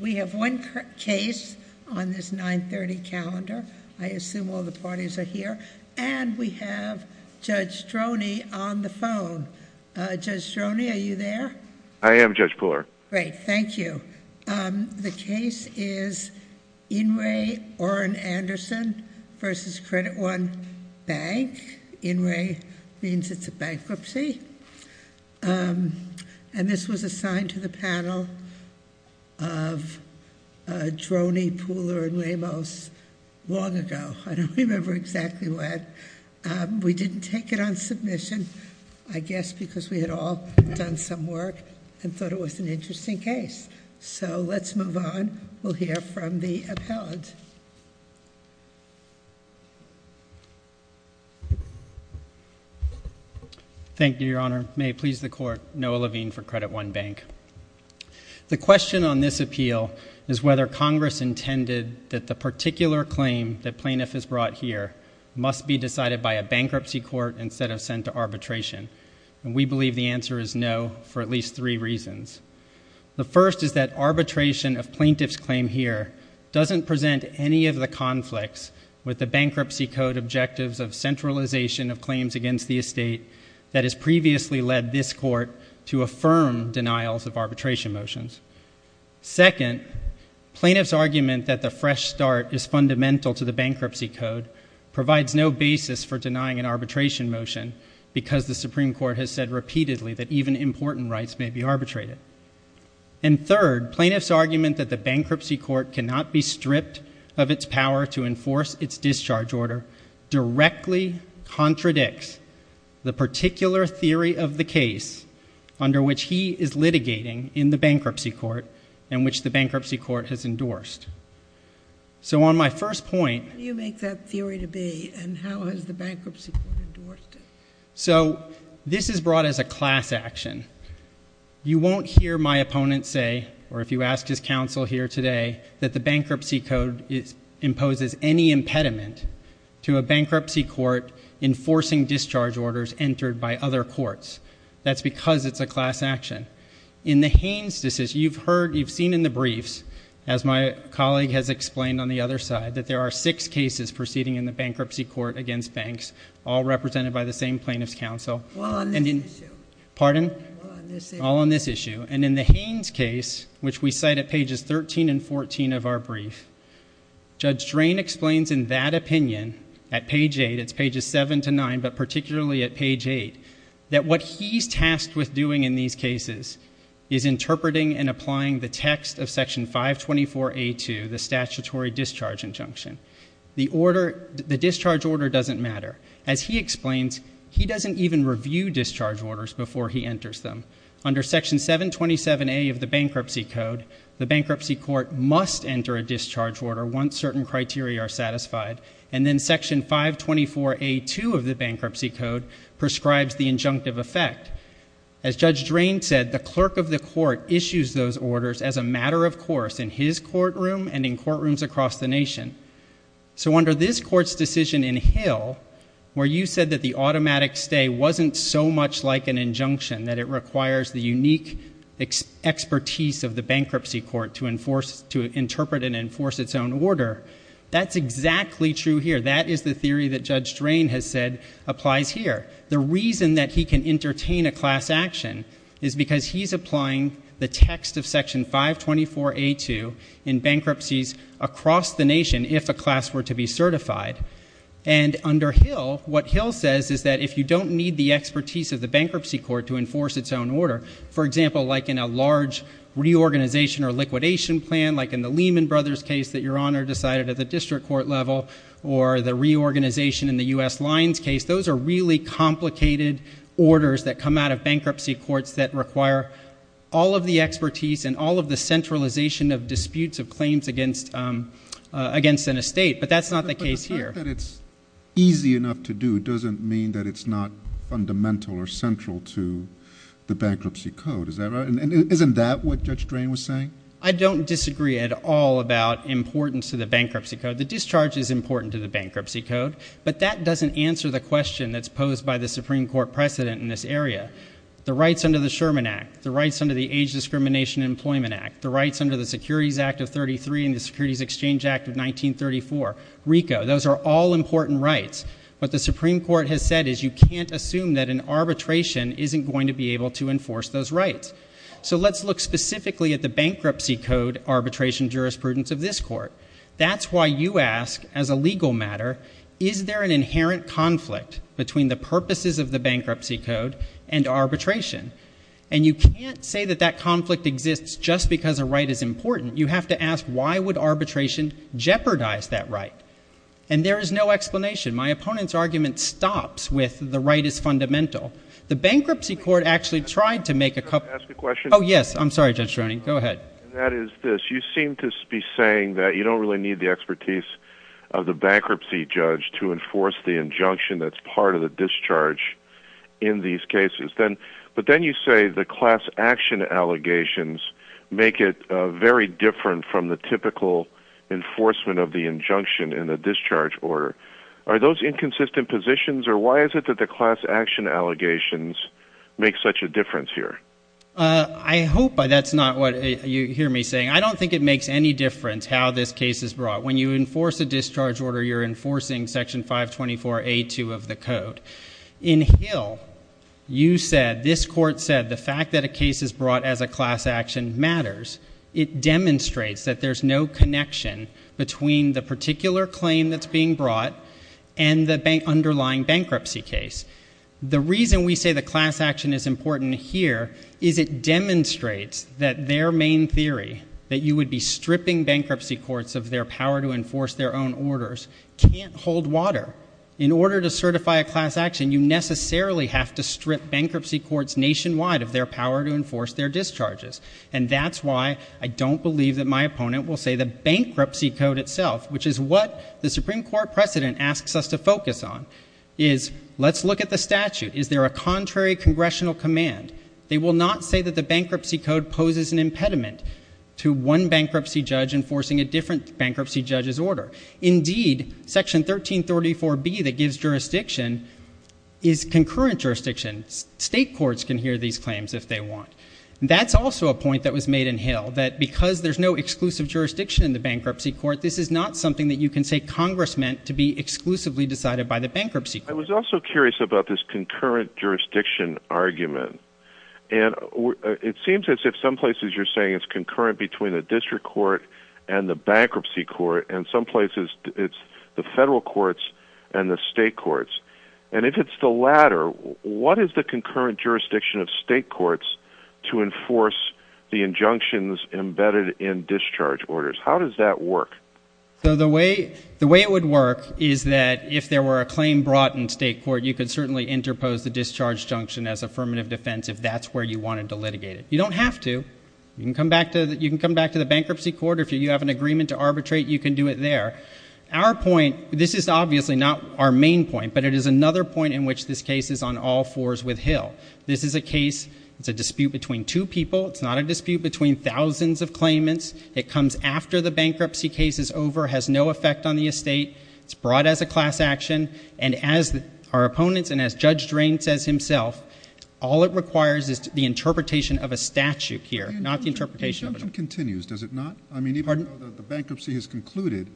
We have one case on this 930 calendar, I assume all the parties are here, and we have Judge Stroni on the phone. Judge Stroni, are you there? I am, Judge Pooler. Great, thank you. The case is Inouye Orrin Anderson v. Credit One Bank, Inouye means it's a bankruptcy, and this was assigned to the panel of Stroni, Pooler, and Ramos long ago, I don't remember exactly when. We didn't take it on submission, I guess because we had all done some work and thought it was an interesting case. So let's move on, we'll hear from the appellant. Thank you, Your Honor, may it please the Court, Noah Levine for Credit One Bank. The question on this appeal is whether Congress intended that the particular claim that plaintiff has brought here must be decided by a bankruptcy court instead of sent to arbitration, and we believe the answer is no, for at least three reasons. The first is that arbitration of plaintiff's claim here doesn't present any of the conflicts with the bankruptcy code objectives of centralization of claims against the estate that has previously led this Court to affirm denials of arbitration motions. Second, plaintiff's argument that the fresh start is fundamental to the bankruptcy code provides no basis for denying an arbitration motion because the Supreme Court has said repeatedly that even important rights may be arbitrated. And third, plaintiff's argument that the bankruptcy court cannot be stripped of its power to enforce its discharge order directly contradicts the particular theory of the case under which he is litigating in the bankruptcy court and which the bankruptcy court has endorsed. So on my first point— How do you make that theory to be, and how has the bankruptcy court endorsed it? So this is brought as a class action. You won't hear my opponent say, or if you ask his counsel here today, that the bankruptcy code imposes any impediment to a bankruptcy court enforcing discharge orders entered by other courts. That's because it's a class action. In the Haines decision, you've heard, you've seen in the briefs, as my colleague has explained on the other side, that there are six cases proceeding in the bankruptcy court against banks, all represented by the same plaintiff's counsel. All on this issue. Pardon? All on this issue. And in the Haines case, which we cite at pages 13 and 14 of our brief, Judge Drain explains in that opinion, at page eight, it's pages seven to nine, but particularly at page eight, that what he's tasked with doing in these cases is interpreting and applying the text of section 524A2, the statutory discharge injunction. The order, the discharge order doesn't matter. As he explains, he doesn't even review discharge orders before he enters them. Under section 727A of the bankruptcy code, the bankruptcy court must enter a discharge order once certain criteria are satisfied, and then section 524A2 of the bankruptcy code prescribes the injunctive effect. As Judge Drain said, the clerk of the court issues those orders as a matter of course in his courtroom and in courtrooms across the nation. So under this court's decision in Hill, where you said that the automatic stay wasn't so much like an injunction, that it requires the unique expertise of the bankruptcy court to enforce, to interpret and enforce its own order, that's exactly true here. That is the theory that Judge Drain has said applies here. The reason that he can entertain a class action is because he's applying the text of section 524A2 in bankruptcies across the nation if a class were to be certified. And under Hill, what Hill says is that if you don't need the expertise of the bankruptcy court to enforce its own order, for example, like in a large reorganization or liquidation plan, like in the Lehman Brothers case that Your Honor decided at the district court level, or the reorganization in the U.S. Lines case, those are really complicated orders that come out of bankruptcy courts that require all of the expertise and all of the centralization of disputes of claims against an estate. But that's not the case here. But the fact that it's easy enough to do doesn't mean that it's not fundamental or central to the bankruptcy code. Is that right? And isn't that what Judge Drain was saying? I don't disagree at all about importance to the bankruptcy code. The discharge is important to the bankruptcy code, but that doesn't answer the question that's posed by the Supreme Court precedent in this area. The rights under the Sherman Act, the rights under the Age Discrimination Employment Act, the rights under the Securities Act of 1933 and the Securities Exchange Act of 1934, RICO, those are all important rights. What the Supreme Court has said is you can't assume that an arbitration isn't going to be able to enforce those rights. So let's look specifically at the bankruptcy code arbitration jurisprudence of this court. That's why you ask, as a legal matter, is there an inherent conflict between the purposes of the bankruptcy code and arbitration? And you can't say that that conflict exists just because a right is important. You have to ask, why would arbitration jeopardize that right? And there is no explanation. My opponent's argument stops with the right is fundamental. The bankruptcy court actually tried to make a couple of— Can I ask a question? Oh, yes. I'm sorry, Judge Droney. Go ahead. That is this. You seem to be saying that you don't really need the expertise of the bankruptcy judge to enforce the injunction that's part of the discharge in these cases. But then you say the class action allegations make it very different from the typical enforcement of the injunction in the discharge order. Are those inconsistent positions, or why is it that the class action allegations make such a difference here? I hope that's not what you hear me saying. I don't think it makes any difference how this case is brought. When you enforce a discharge order, you're enforcing Section 524A2 of the code. In Hill, you said, this court said, the fact that a case is brought as a class action matters. It demonstrates that there's no connection between the particular claim that's being brought and the underlying bankruptcy case. The reason we say the class action is important here is it demonstrates that their main theory, that you would be stripping bankruptcy courts of their power to enforce their own orders, can't hold water. In order to certify a class action, you necessarily have to strip bankruptcy courts nationwide of their power to enforce their discharges. And that's why I don't believe that my opponent will say the bankruptcy code itself, which is what the Supreme Court precedent asks us to focus on, is let's look at the statute. Is there a contrary congressional command? They will not say that the bankruptcy code poses an impediment to one bankruptcy judge enforcing a different bankruptcy judge's order. Indeed, Section 1334B that gives jurisdiction is concurrent jurisdiction. State courts can hear these claims if they want. That's also a point that was made in Hill, that because there's no exclusive jurisdiction in the bankruptcy court, this is not something that you can say Congress meant to be exclusively decided by the bankruptcy court. I was also curious about this concurrent jurisdiction argument. It seems as if some places you're saying it's concurrent between the district court and the bankruptcy court, and some places it's the federal courts and the state courts. And if it's the latter, what is the concurrent jurisdiction of state courts to enforce the injunctions embedded in discharge orders? How does that work? So the way it would work is that if there were a claim brought in state court, you could certainly interpose the discharge junction as affirmative defense if that's where you wanted to litigate it. You don't have to. You can come back to the bankruptcy court, or if you have an agreement to arbitrate, you can do it there. Our point, this is obviously not our main point, but it is another point in which this case is on all fours with Hill. This is a case, it's a dispute between two people, it's not a dispute between thousands of claimants. It comes after the bankruptcy case is over, has no effect on the estate, it's brought as a class action, and as our opponents, and as Judge Drain says himself, all it requires is the interpretation of a statute here, not the interpretation of a junction. The injunction continues, does it not? Pardon? I mean, even though the bankruptcy has concluded,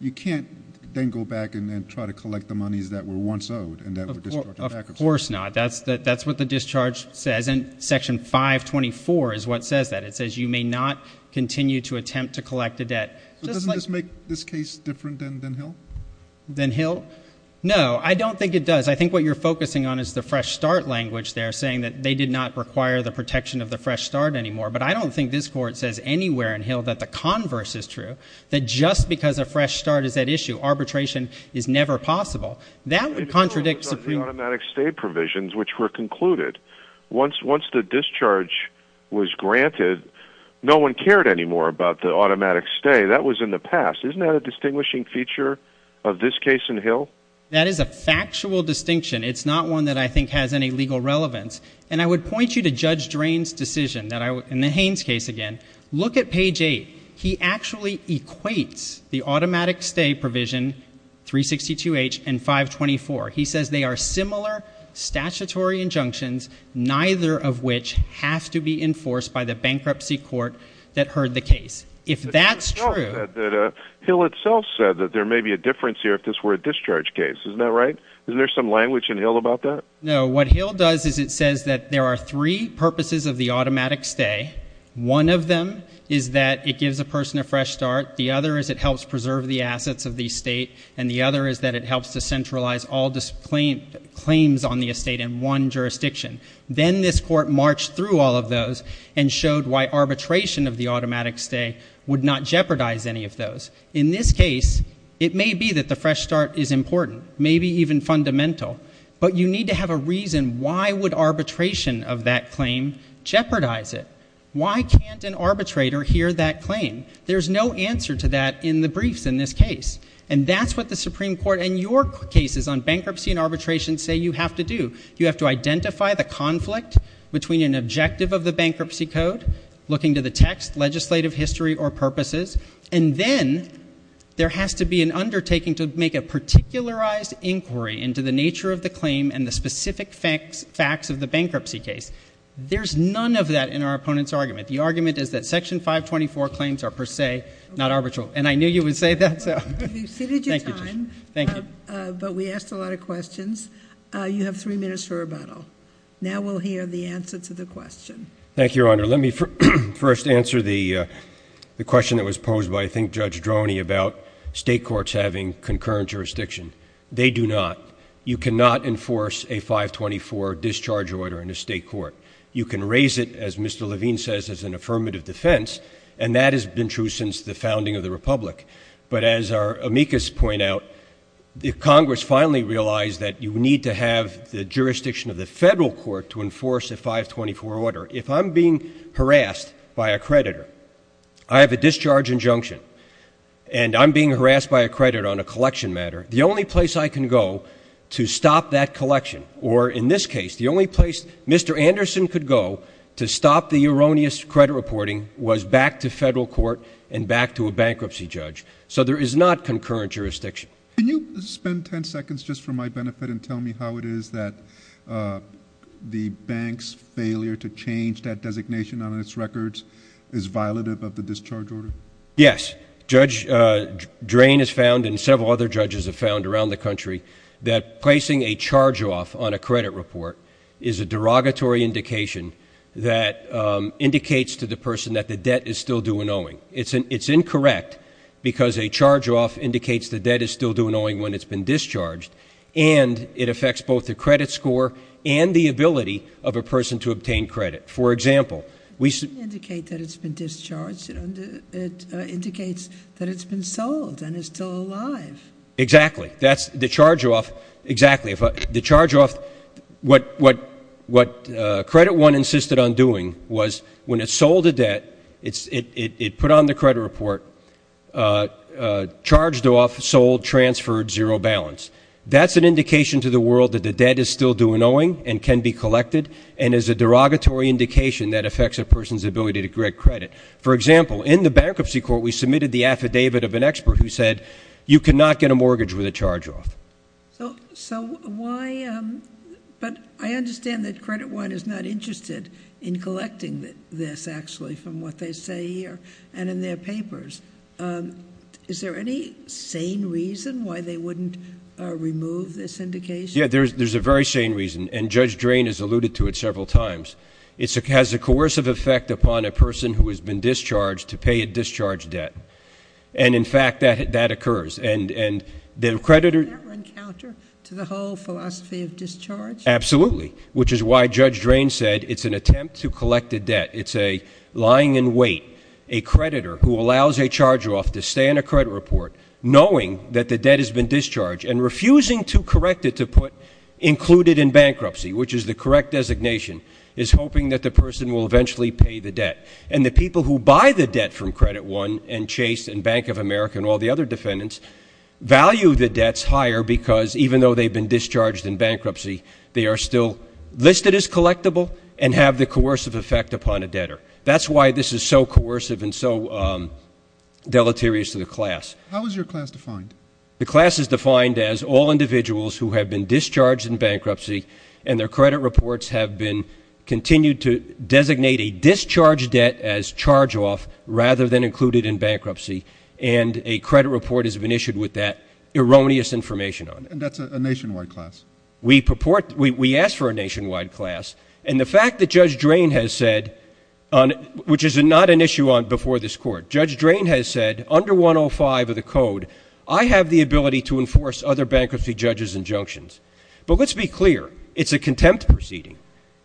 you can't then go back and then try to collect the monies that were once owed and that were discharged in bankruptcy. Of course not. That's what the discharge says, and Section 524 is what says that. It says you may not continue to attempt to collect a debt. Doesn't this make this case different than Hill? Than Hill? No, I don't think it does. I think what you're focusing on is the fresh start language there, saying that they did not require the protection of the fresh start anymore, but I don't think this court says anywhere in Hill that the converse is true, that just because a fresh start is at issue, arbitration is never possible. That would contradict Supreme Court. It's also the automatic stay provisions, which were concluded. Once the discharge was granted, no one cared anymore about the automatic stay. That was in the past. Isn't that a distinguishing feature of this case in Hill? That is a factual distinction. It's not one that I think has any legal relevance. And I would point you to Judge Drain's decision, in the Haynes case again. Look at page 8. He actually equates the automatic stay provision, 362H, and 524. He says they are similar statutory injunctions, neither of which have to be enforced by the bankruptcy court that heard the case. If that's true... But Hill itself said that there may be a difference here if this were a discharge case. Isn't that right? Isn't there some language in Hill about that? No. What Hill does is it says that there are three purposes of the automatic stay. One of them is that it gives a person a fresh start. The other is it helps preserve the assets of the state. And the other is that it helps to centralize all claims on the estate in one jurisdiction. Then this court marched through all of those and showed why arbitration of the automatic stay would not jeopardize any of those. In this case, it may be that the fresh start is important, maybe even fundamental. But you need to have a reason why would arbitration of that claim jeopardize it. Why can't an arbitrator hear that claim? There's no answer to that in the briefs in this case. And that's what the Supreme Court and your cases on bankruptcy and arbitration say you have to do. You have to identify the conflict between an objective of the bankruptcy code, looking to the text, legislative history, or purposes. And then there has to be an undertaking to make a particularized inquiry into the nature of the claim and the specific facts of the bankruptcy case. There's none of that in our opponent's argument. The argument is that Section 524 claims are per se not arbitral. And I knew you would say that. Thank you, Judge. You've exceeded your time, but we asked a lot of questions. You have three minutes for rebuttal. Now we'll hear the answer to the question. Thank you, Your Honor. Let me first answer the question that was posed by, I think, Judge Droney about state courts having concurrent jurisdiction. They do not. You cannot enforce a 524 discharge order in a state court. You can raise it, as Mr. Levine says, as an affirmative defense, and that has been true since the founding of the Republic. But as our amicus point out, Congress finally realized that you need to have the jurisdiction of the federal court to enforce a 524 order. If I'm being harassed by a creditor, I have a discharge injunction, and I'm being harassed by a creditor on a collection matter, the only place I can go to stop that collection, or in this case, the only place Mr. Anderson could go to stop the erroneous credit reporting was back to federal court and back to a bankruptcy judge. So there is not concurrent jurisdiction. Can you spend 10 seconds, just for my benefit, and tell me how it is that the bank's failure to change that designation on its records is violative of the discharge order? Yes. Judge Drain has found, and several other judges have found around the country, that placing a charge off on a credit report is a derogatory indication that indicates to the person that the debt is still due an owing. It's incorrect, because a charge off indicates the debt is still due an owing when it's been discharged, and it affects both the credit score and the ability of a person to obtain credit. For example, we — It doesn't indicate that it's been discharged. It indicates that it's been sold and is still alive. Exactly. That's the charge off — exactly. The charge off — what Credit One insisted on doing was, when it sold a debt, it put on the credit report, charged off, sold, transferred, zero balance. That's an indication to the world that the debt is still due an owing and can be collected, and is a derogatory indication that affects a person's ability to get credit. For example, in the bankruptcy court, we submitted the affidavit of an expert who said, you cannot get a mortgage with a charge off. So why — but I understand that Credit One is not interested in collecting this, actually, from what they say here and in their papers. Is there any sane reason why they wouldn't remove this indication? Yeah, there's a very sane reason, and Judge Drain has alluded to it several times. It has a coercive effect upon a person who has been discharged to pay a discharge debt, and in fact, that occurs. And the creditor — Does that run counter to the whole philosophy of discharge? Absolutely, which is why Judge Drain said it's an attempt to collect a debt. It's a lying in wait. A creditor who allows a charge off to stay on a credit report, knowing that the debt has been discharged, and refusing to correct it to put included in bankruptcy, which is the correct designation, is hoping that the person will eventually pay the debt. And the people who buy the debt from Credit One and Chase and Bank of America and all the other defendants value the debts higher because, even though they've been discharged in bankruptcy, they are still listed as collectible and have the coercive effect upon a debtor. That's why this is so coercive and so deleterious to the class. How is your class defined? The class is defined as all individuals who have been discharged in bankruptcy and their debt as charge off rather than included in bankruptcy, and a credit report has been issued with that erroneous information on it. And that's a nationwide class? We ask for a nationwide class. And the fact that Judge Drain has said — which is not an issue before this Court — Judge Drain has said, under 105 of the code, I have the ability to enforce other bankruptcy judges' injunctions. But let's be clear. It's a contempt proceeding.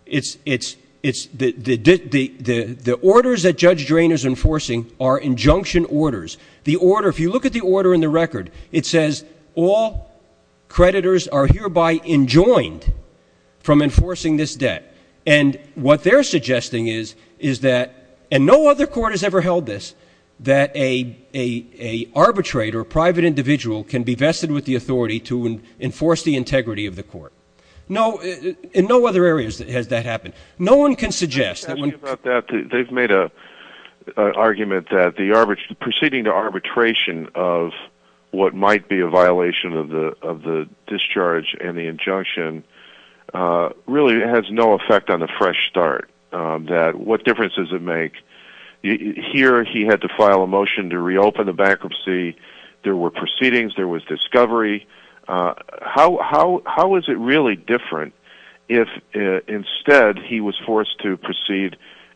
It's — the orders that Judge Drain is enforcing are injunction orders. The order — if you look at the order in the record, it says all creditors are hereby enjoined from enforcing this debt. And what they're suggesting is that — and no other court has ever held this — that a arbitrator, a private individual, can be vested with the authority to enforce the integrity of the court. No — in no other areas has that happened. No one can suggest — Let me ask you about that. They've made an argument that the arbitration — proceeding to arbitration of what might be a violation of the discharge and the injunction really has no effect on the fresh start. What difference does it make? Here he had to file a motion to reopen the bankruptcy. There were proceedings. There was discovery. How is it really different if instead he was forced to proceed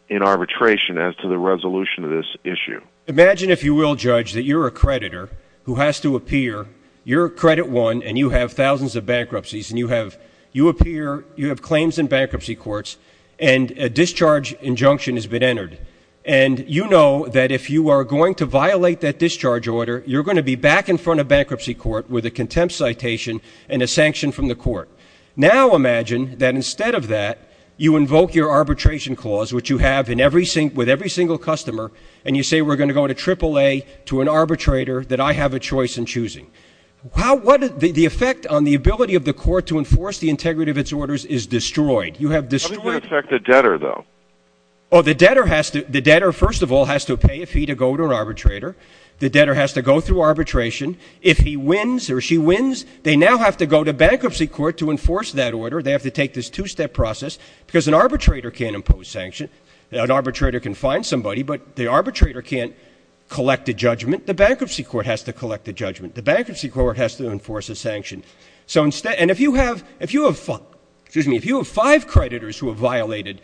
in arbitration as to the resolution of this issue? Imagine if you will, Judge, that you're a creditor who has to appear. You're credit one and you have thousands of bankruptcies and you have — you appear — you have claims in bankruptcy courts and a discharge injunction has been entered. And you know that if you are going to violate that discharge order, you're going to be back in front of bankruptcy court with a contempt citation and a sanction from the court. Now imagine that instead of that, you invoke your arbitration clause, which you have in every — with every single customer, and you say, we're going to go to AAA to an arbitrator that I have a choice in choosing. How — what — the effect on the ability of the court to enforce the integrity of its orders is destroyed. You have destroyed — How does it affect the debtor, though? Oh, the debtor has to — the debtor, first of all, has to pay a fee to go to an arbitrator. The debtor has to go through arbitration. If he wins or she wins, they now have to go to bankruptcy court to enforce that order. They have to take this two-step process because an arbitrator can't impose sanction. An arbitrator can fine somebody, but the arbitrator can't collect a judgment. The bankruptcy court has to collect a judgment. The bankruptcy court has to enforce a sanction. So instead — and if you have — if you have — excuse me — if you have five creditors who have violated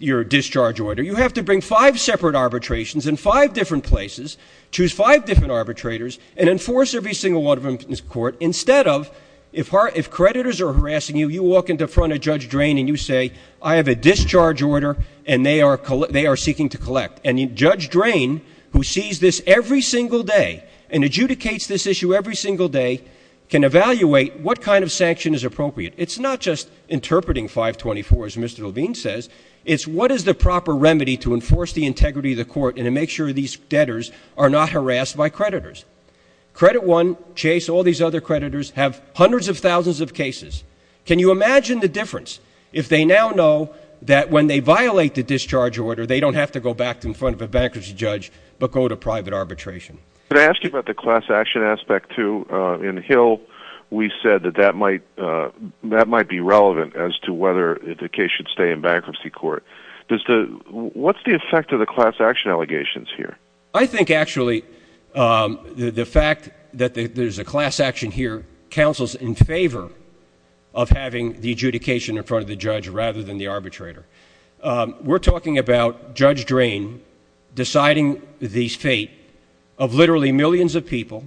your discharge order, you have to bring five separate arbitrations in five different places, choose five different arbitrators, and enforce every single one of them in this court instead of — if creditors are harassing you, you walk in front of Judge Drain and you say, I have a discharge order and they are seeking to collect. And Judge Drain, who sees this every single day and adjudicates this issue every single day, can evaluate what kind of sanction is appropriate. It's not just interpreting 524, as Mr. Levine says. It's what is the proper remedy to enforce the integrity of the court and to make sure these debtors are not harassed by creditors. Credit One, Chase, all these other creditors have hundreds of thousands of cases. Can you imagine the difference if they now know that when they violate the discharge order, they don't have to go back in front of a bankruptcy judge but go to private arbitration? Can I ask you about the class action aspect, too? In Hill, we said that that might — that might be relevant as to whether the case should stay in bankruptcy court. Does the — what's the effect of the class action allegations here? I think, actually, the fact that there's a class action here counsels in favor of having the adjudication in front of the judge rather than the arbitrator. We're talking about Judge Drain deciding the fate of literally millions of people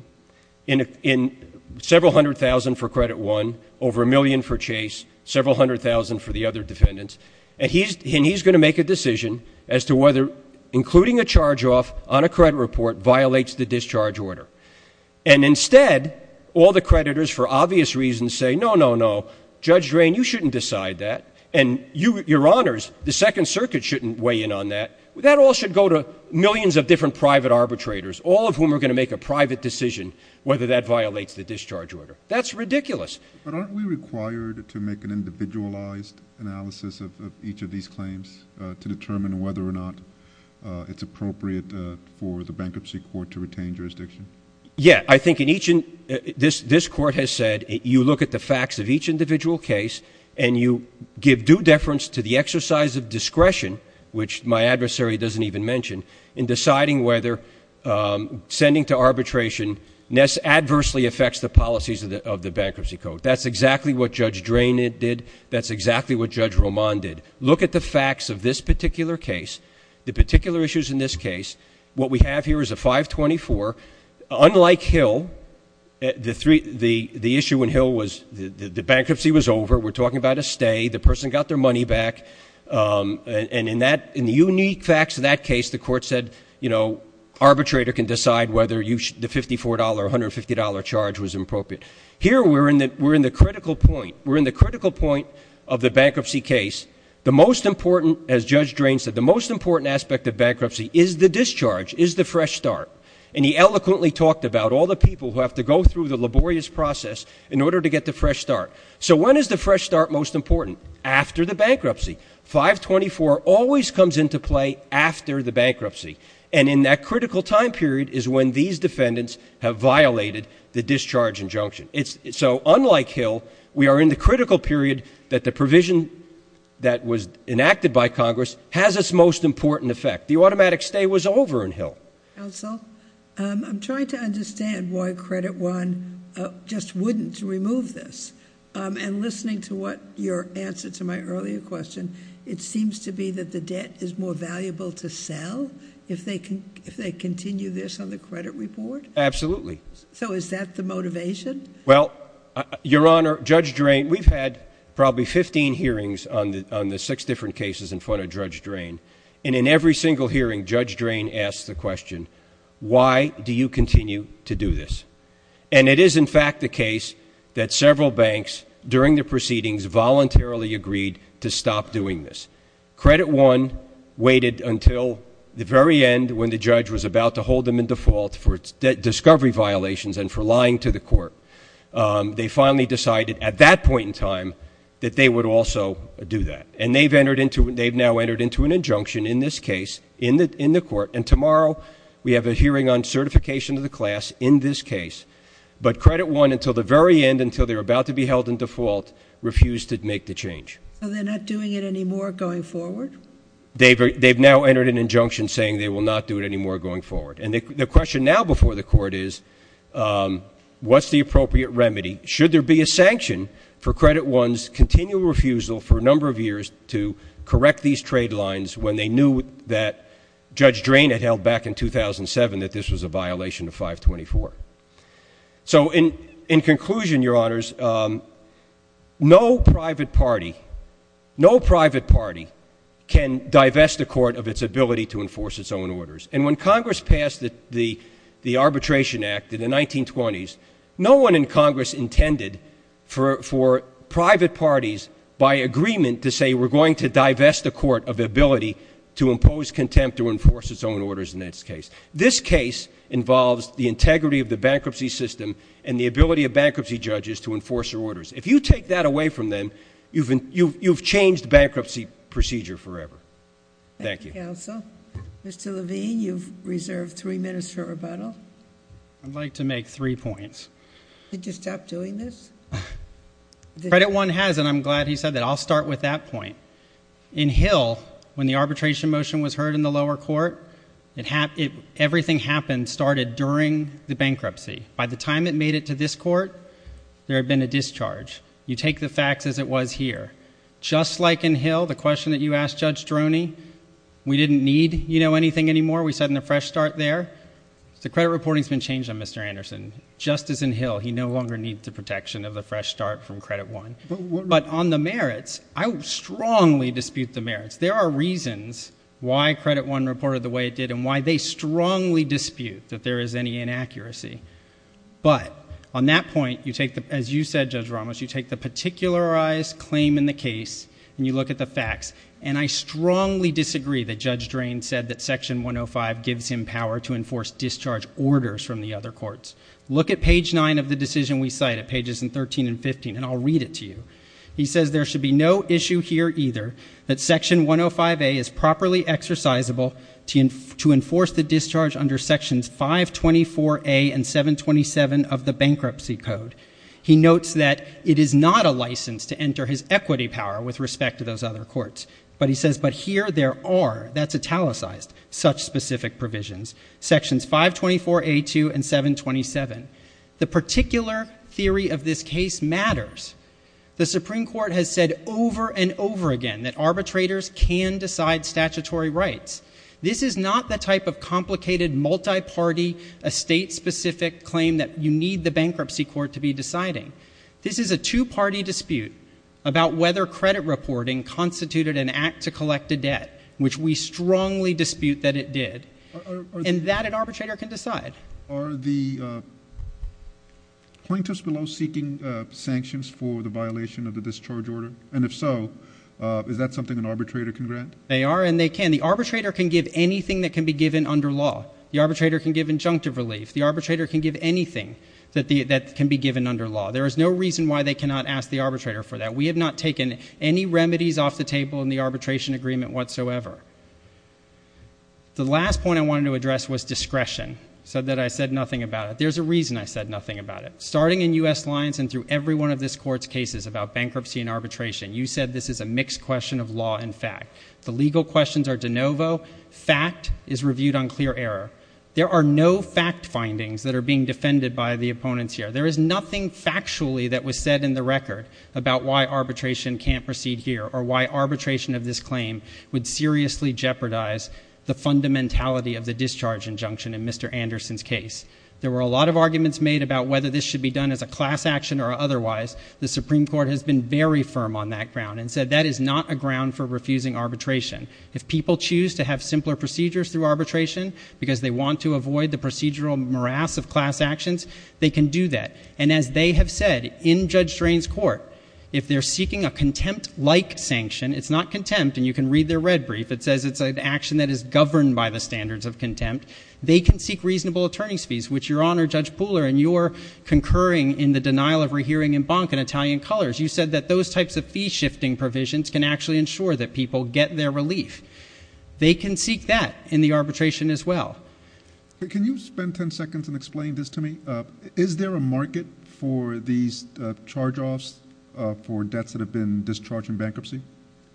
in several hundred thousand for Credit One, over a million for Chase, several hundred thousand for the other defendants, and he's — and he's going to make a decision as to whether including a charge off on a credit report violates the discharge order. And instead, all the creditors, for obvious reasons, say, no, no, no, Judge Drain, you shouldn't decide that, and you — your honors, the Second Circuit shouldn't weigh in on that. That all should go to millions of different private arbitrators, all of whom are going to make a private decision whether that violates the discharge order. That's ridiculous. But aren't we required to make an individualized analysis of each of these claims to determine whether or not it's appropriate for the Bankruptcy Court to retain jurisdiction? Yeah. I think in each — this court has said you look at the facts of each individual case and you give due deference to the exercise of discretion, which my adversary doesn't even mention, in deciding whether sending to arbitration adversely affects the policies of the Bankruptcy Court. That's exactly what Judge Drain did. That's exactly what Judge Roman did. Look at the facts of this particular case, the particular issues in this case. What we have here is a 524. Unlike Hill, the three — the issue in Hill was the bankruptcy was over. We're talking about a stay. The person got their money back. And in that — in the unique facts of that case, the court said, you know, arbitrator can decide whether you — the $54, $150 charge was appropriate. Here we're in the — we're in the critical point. We're in the critical point of the bankruptcy case. The most important, as Judge Drain said, the most important aspect of bankruptcy is the discharge, is the fresh start. And he eloquently talked about all the people who have to go through the laborious process in order to get the fresh start. So when is the fresh start most important? After the bankruptcy. 524 always comes into play after the bankruptcy. And in that critical time period is when these defendants have violated the discharge injunction. So unlike Hill, we are in the critical period that the provision that was enacted by Congress has its most important effect. The automatic stay was over in Hill. Counsel, I'm trying to understand why Credit One just wouldn't remove this. And listening to what your answer to my earlier question, it seems to be that the debt is more valuable to sell if they continue this on the credit report? Absolutely. So is that the motivation? Well, Your Honor, Judge Drain — we've had probably 15 hearings on the six different cases in front of Judge Drain. And in every single hearing, Judge Drain asks the question, why do you continue to do this? And it is, in fact, the case that several banks during the proceedings voluntarily agreed to stop doing this. Credit One waited until the very end when the judge was about to hold them in default for discovery violations and for lying to the court. They finally decided at that point in time that they would also do that. And they've now entered into an injunction in this case in the court. And tomorrow, we have a hearing on certification of the class in this case. But Credit One, until the very end, until they're about to be held in default, refused to make the change. So they're not doing it anymore going forward? They've now entered an injunction saying they will not do it anymore going forward. And the question now before the court is, what's the appropriate remedy? Should there be a sanction for Credit One's continual refusal for a number of years to correct these trade lines when they knew that Judge Drain had held back in 2007 that this was a violation of 524? So in conclusion, Your Honors, no private party can divest the court of its ability to enforce its own orders. And when Congress passed the Arbitration Act in the 1920s, no one in Congress intended for private parties, by agreement, to say we're going to divest the court of ability to impose contempt to enforce its own orders in this case. This case involves the integrity of the bankruptcy system and the ability of bankruptcy judges to enforce their orders. If you take that away from them, you've changed bankruptcy procedure forever. Thank you. Thank you, counsel. Mr. Levine, you've reserved three minutes for rebuttal. I'd like to make three points. Did you stop doing this? Credit One has, and I'm glad he said that. I'll start with that point. In Hill, when the arbitration motion was heard in the lower court, everything happened started during the bankruptcy. By the time it made it to this court, there had been a discharge. You take the facts as it was here. Just like in Hill, the question that you asked Judge Droney, we didn't need, you know, anything anymore. We set in a fresh start there. The credit reporting's been changed on Mr. Anderson. Just as in Hill, he no longer needs the protection of the fresh start from Credit One. But on the merits, I strongly dispute the merits. There are reasons why Credit One reported the way it did and why they strongly dispute that there is any inaccuracy. But on that point, as you said, Judge Ramos, you take the particularized claim in the case and you look at the facts, and I strongly disagree that Judge Drain said that Section 105 gives him power to enforce discharge orders from the other courts. Look at page 9 of the decision we cite at pages 13 and 15, and I'll read it to you. He says, there should be no issue here either that Section 105A is properly exercisable to enforce the discharge under Sections 524A and 727 of the Bankruptcy Code. He notes that it is not a license to enter his equity power with respect to those other courts. But he says, but here there are, that's italicized, such specific provisions. Sections 524A2 and 727. The particular theory of this case matters. The Supreme Court has said over and over again that arbitrators can decide statutory rights. This is not the type of complicated, multi-party, estate-specific claim that you need the bankruptcy court to be deciding. This is a two-party dispute about whether credit reporting constituted an act to collect a debt, which we strongly dispute that it did. And that an arbitrator can decide. Are the plaintiffs below seeking sanctions for the violation of the discharge order? And if so, is that something an arbitrator can grant? They are and they can. The arbitrator can give anything that can be given under law. The arbitrator can give injunctive relief. The arbitrator can give anything that can be given under law. There is no reason why they cannot ask the arbitrator for that. We have not taken any remedies off the table in the arbitration agreement whatsoever. The last point I wanted to address was discretion, so that I said nothing about it. There's a reason I said nothing about it. Starting in U.S. lines and through every one of this Court's cases about bankruptcy and arbitration, you said this is a mixed question of law and fact. The legal questions are de novo. Fact is reviewed on clear error. There are no fact findings that are being defended by the opponents here. There is nothing factually that was said in the record about why arbitration can't proceed here or why arbitration of this claim would seriously jeopardize the fundamentality of the discharge injunction in Mr. Anderson's case. There were a lot of arguments made about whether this should be done as a class action or otherwise. The Supreme Court has been very firm on that ground and said that is not a ground for refusing arbitration. If people choose to have simpler procedures through arbitration because they want to avoid the procedural morass of class actions, they can do that. And as they have said in Judge Drain's Court, if they're seeking a contempt-like sanction, it's not contempt and you can read their red brief, it says it's an action that is governed by the standards of contempt, they can seek reasonable attorney's fees, which Your Honor, Judge Pooler, in your concurring in the denial of rehearing in Bonk and Italian Colors, you said that those types of fee-shifting provisions can actually ensure that people get their relief. They can seek that in the arbitration as well. Can you spend 10 seconds and explain this to me? Is there a market for these charge-offs for debts that have been discharged in bankruptcy?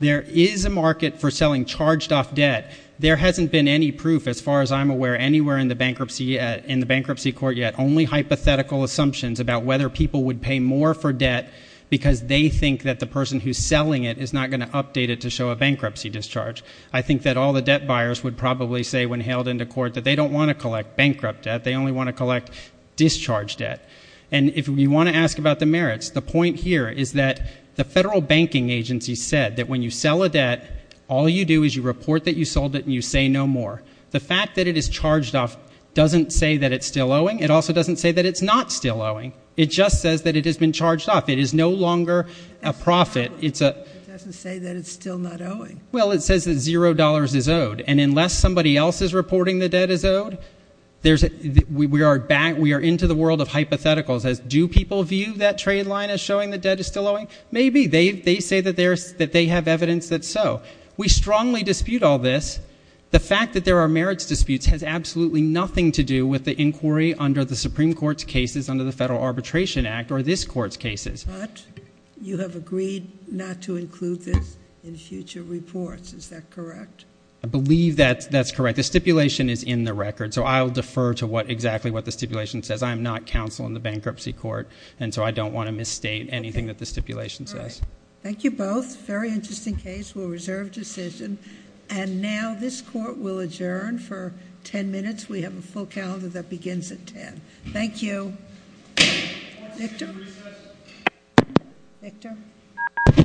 There is a market for selling charged-off debt. There hasn't been any proof, as far as I'm aware, anywhere in the bankruptcy court yet. Only hypothetical assumptions about whether people would pay more for debt because they think that the person who's selling it is not going to update it to show a bankruptcy discharge. I think that all the debt buyers would probably say when hailed into court that they don't want to collect bankrupt debt, they only want to collect discharge debt. And if you want to ask about the merits, the point here is that the federal banking agency said that when you sell a debt, all you do is you report that you sold it and you say no more. The fact that it is charged off doesn't say that it's still owing. It also doesn't say that it's not still owing. It just says that it has been charged off. It is no longer a profit. It doesn't say that it's still not owing. Well, it says that $0 is owed. And unless somebody else is reporting the debt is owed, we are into the world of hypotheticals as do people view that trade line as showing the debt is still owing? Maybe. They say that they have evidence that's so. We strongly dispute all this. The fact that there are merits disputes has absolutely nothing to do with the inquiry under the Supreme Court's cases under the Federal Arbitration Act or this Court's cases. But you have agreed not to include this in future reports. Is that correct? I believe that that's correct. The stipulation is in the record, so I'll defer to exactly what the stipulation says. I am not counsel in the bankruptcy court, and so I don't want to misstate anything that the stipulation says. All right. Thank you both. Very interesting case. We'll reserve decision. And now this Court will adjourn for 10 minutes. We have a full calendar that begins at 10. Thank you. Thank you. Thank you.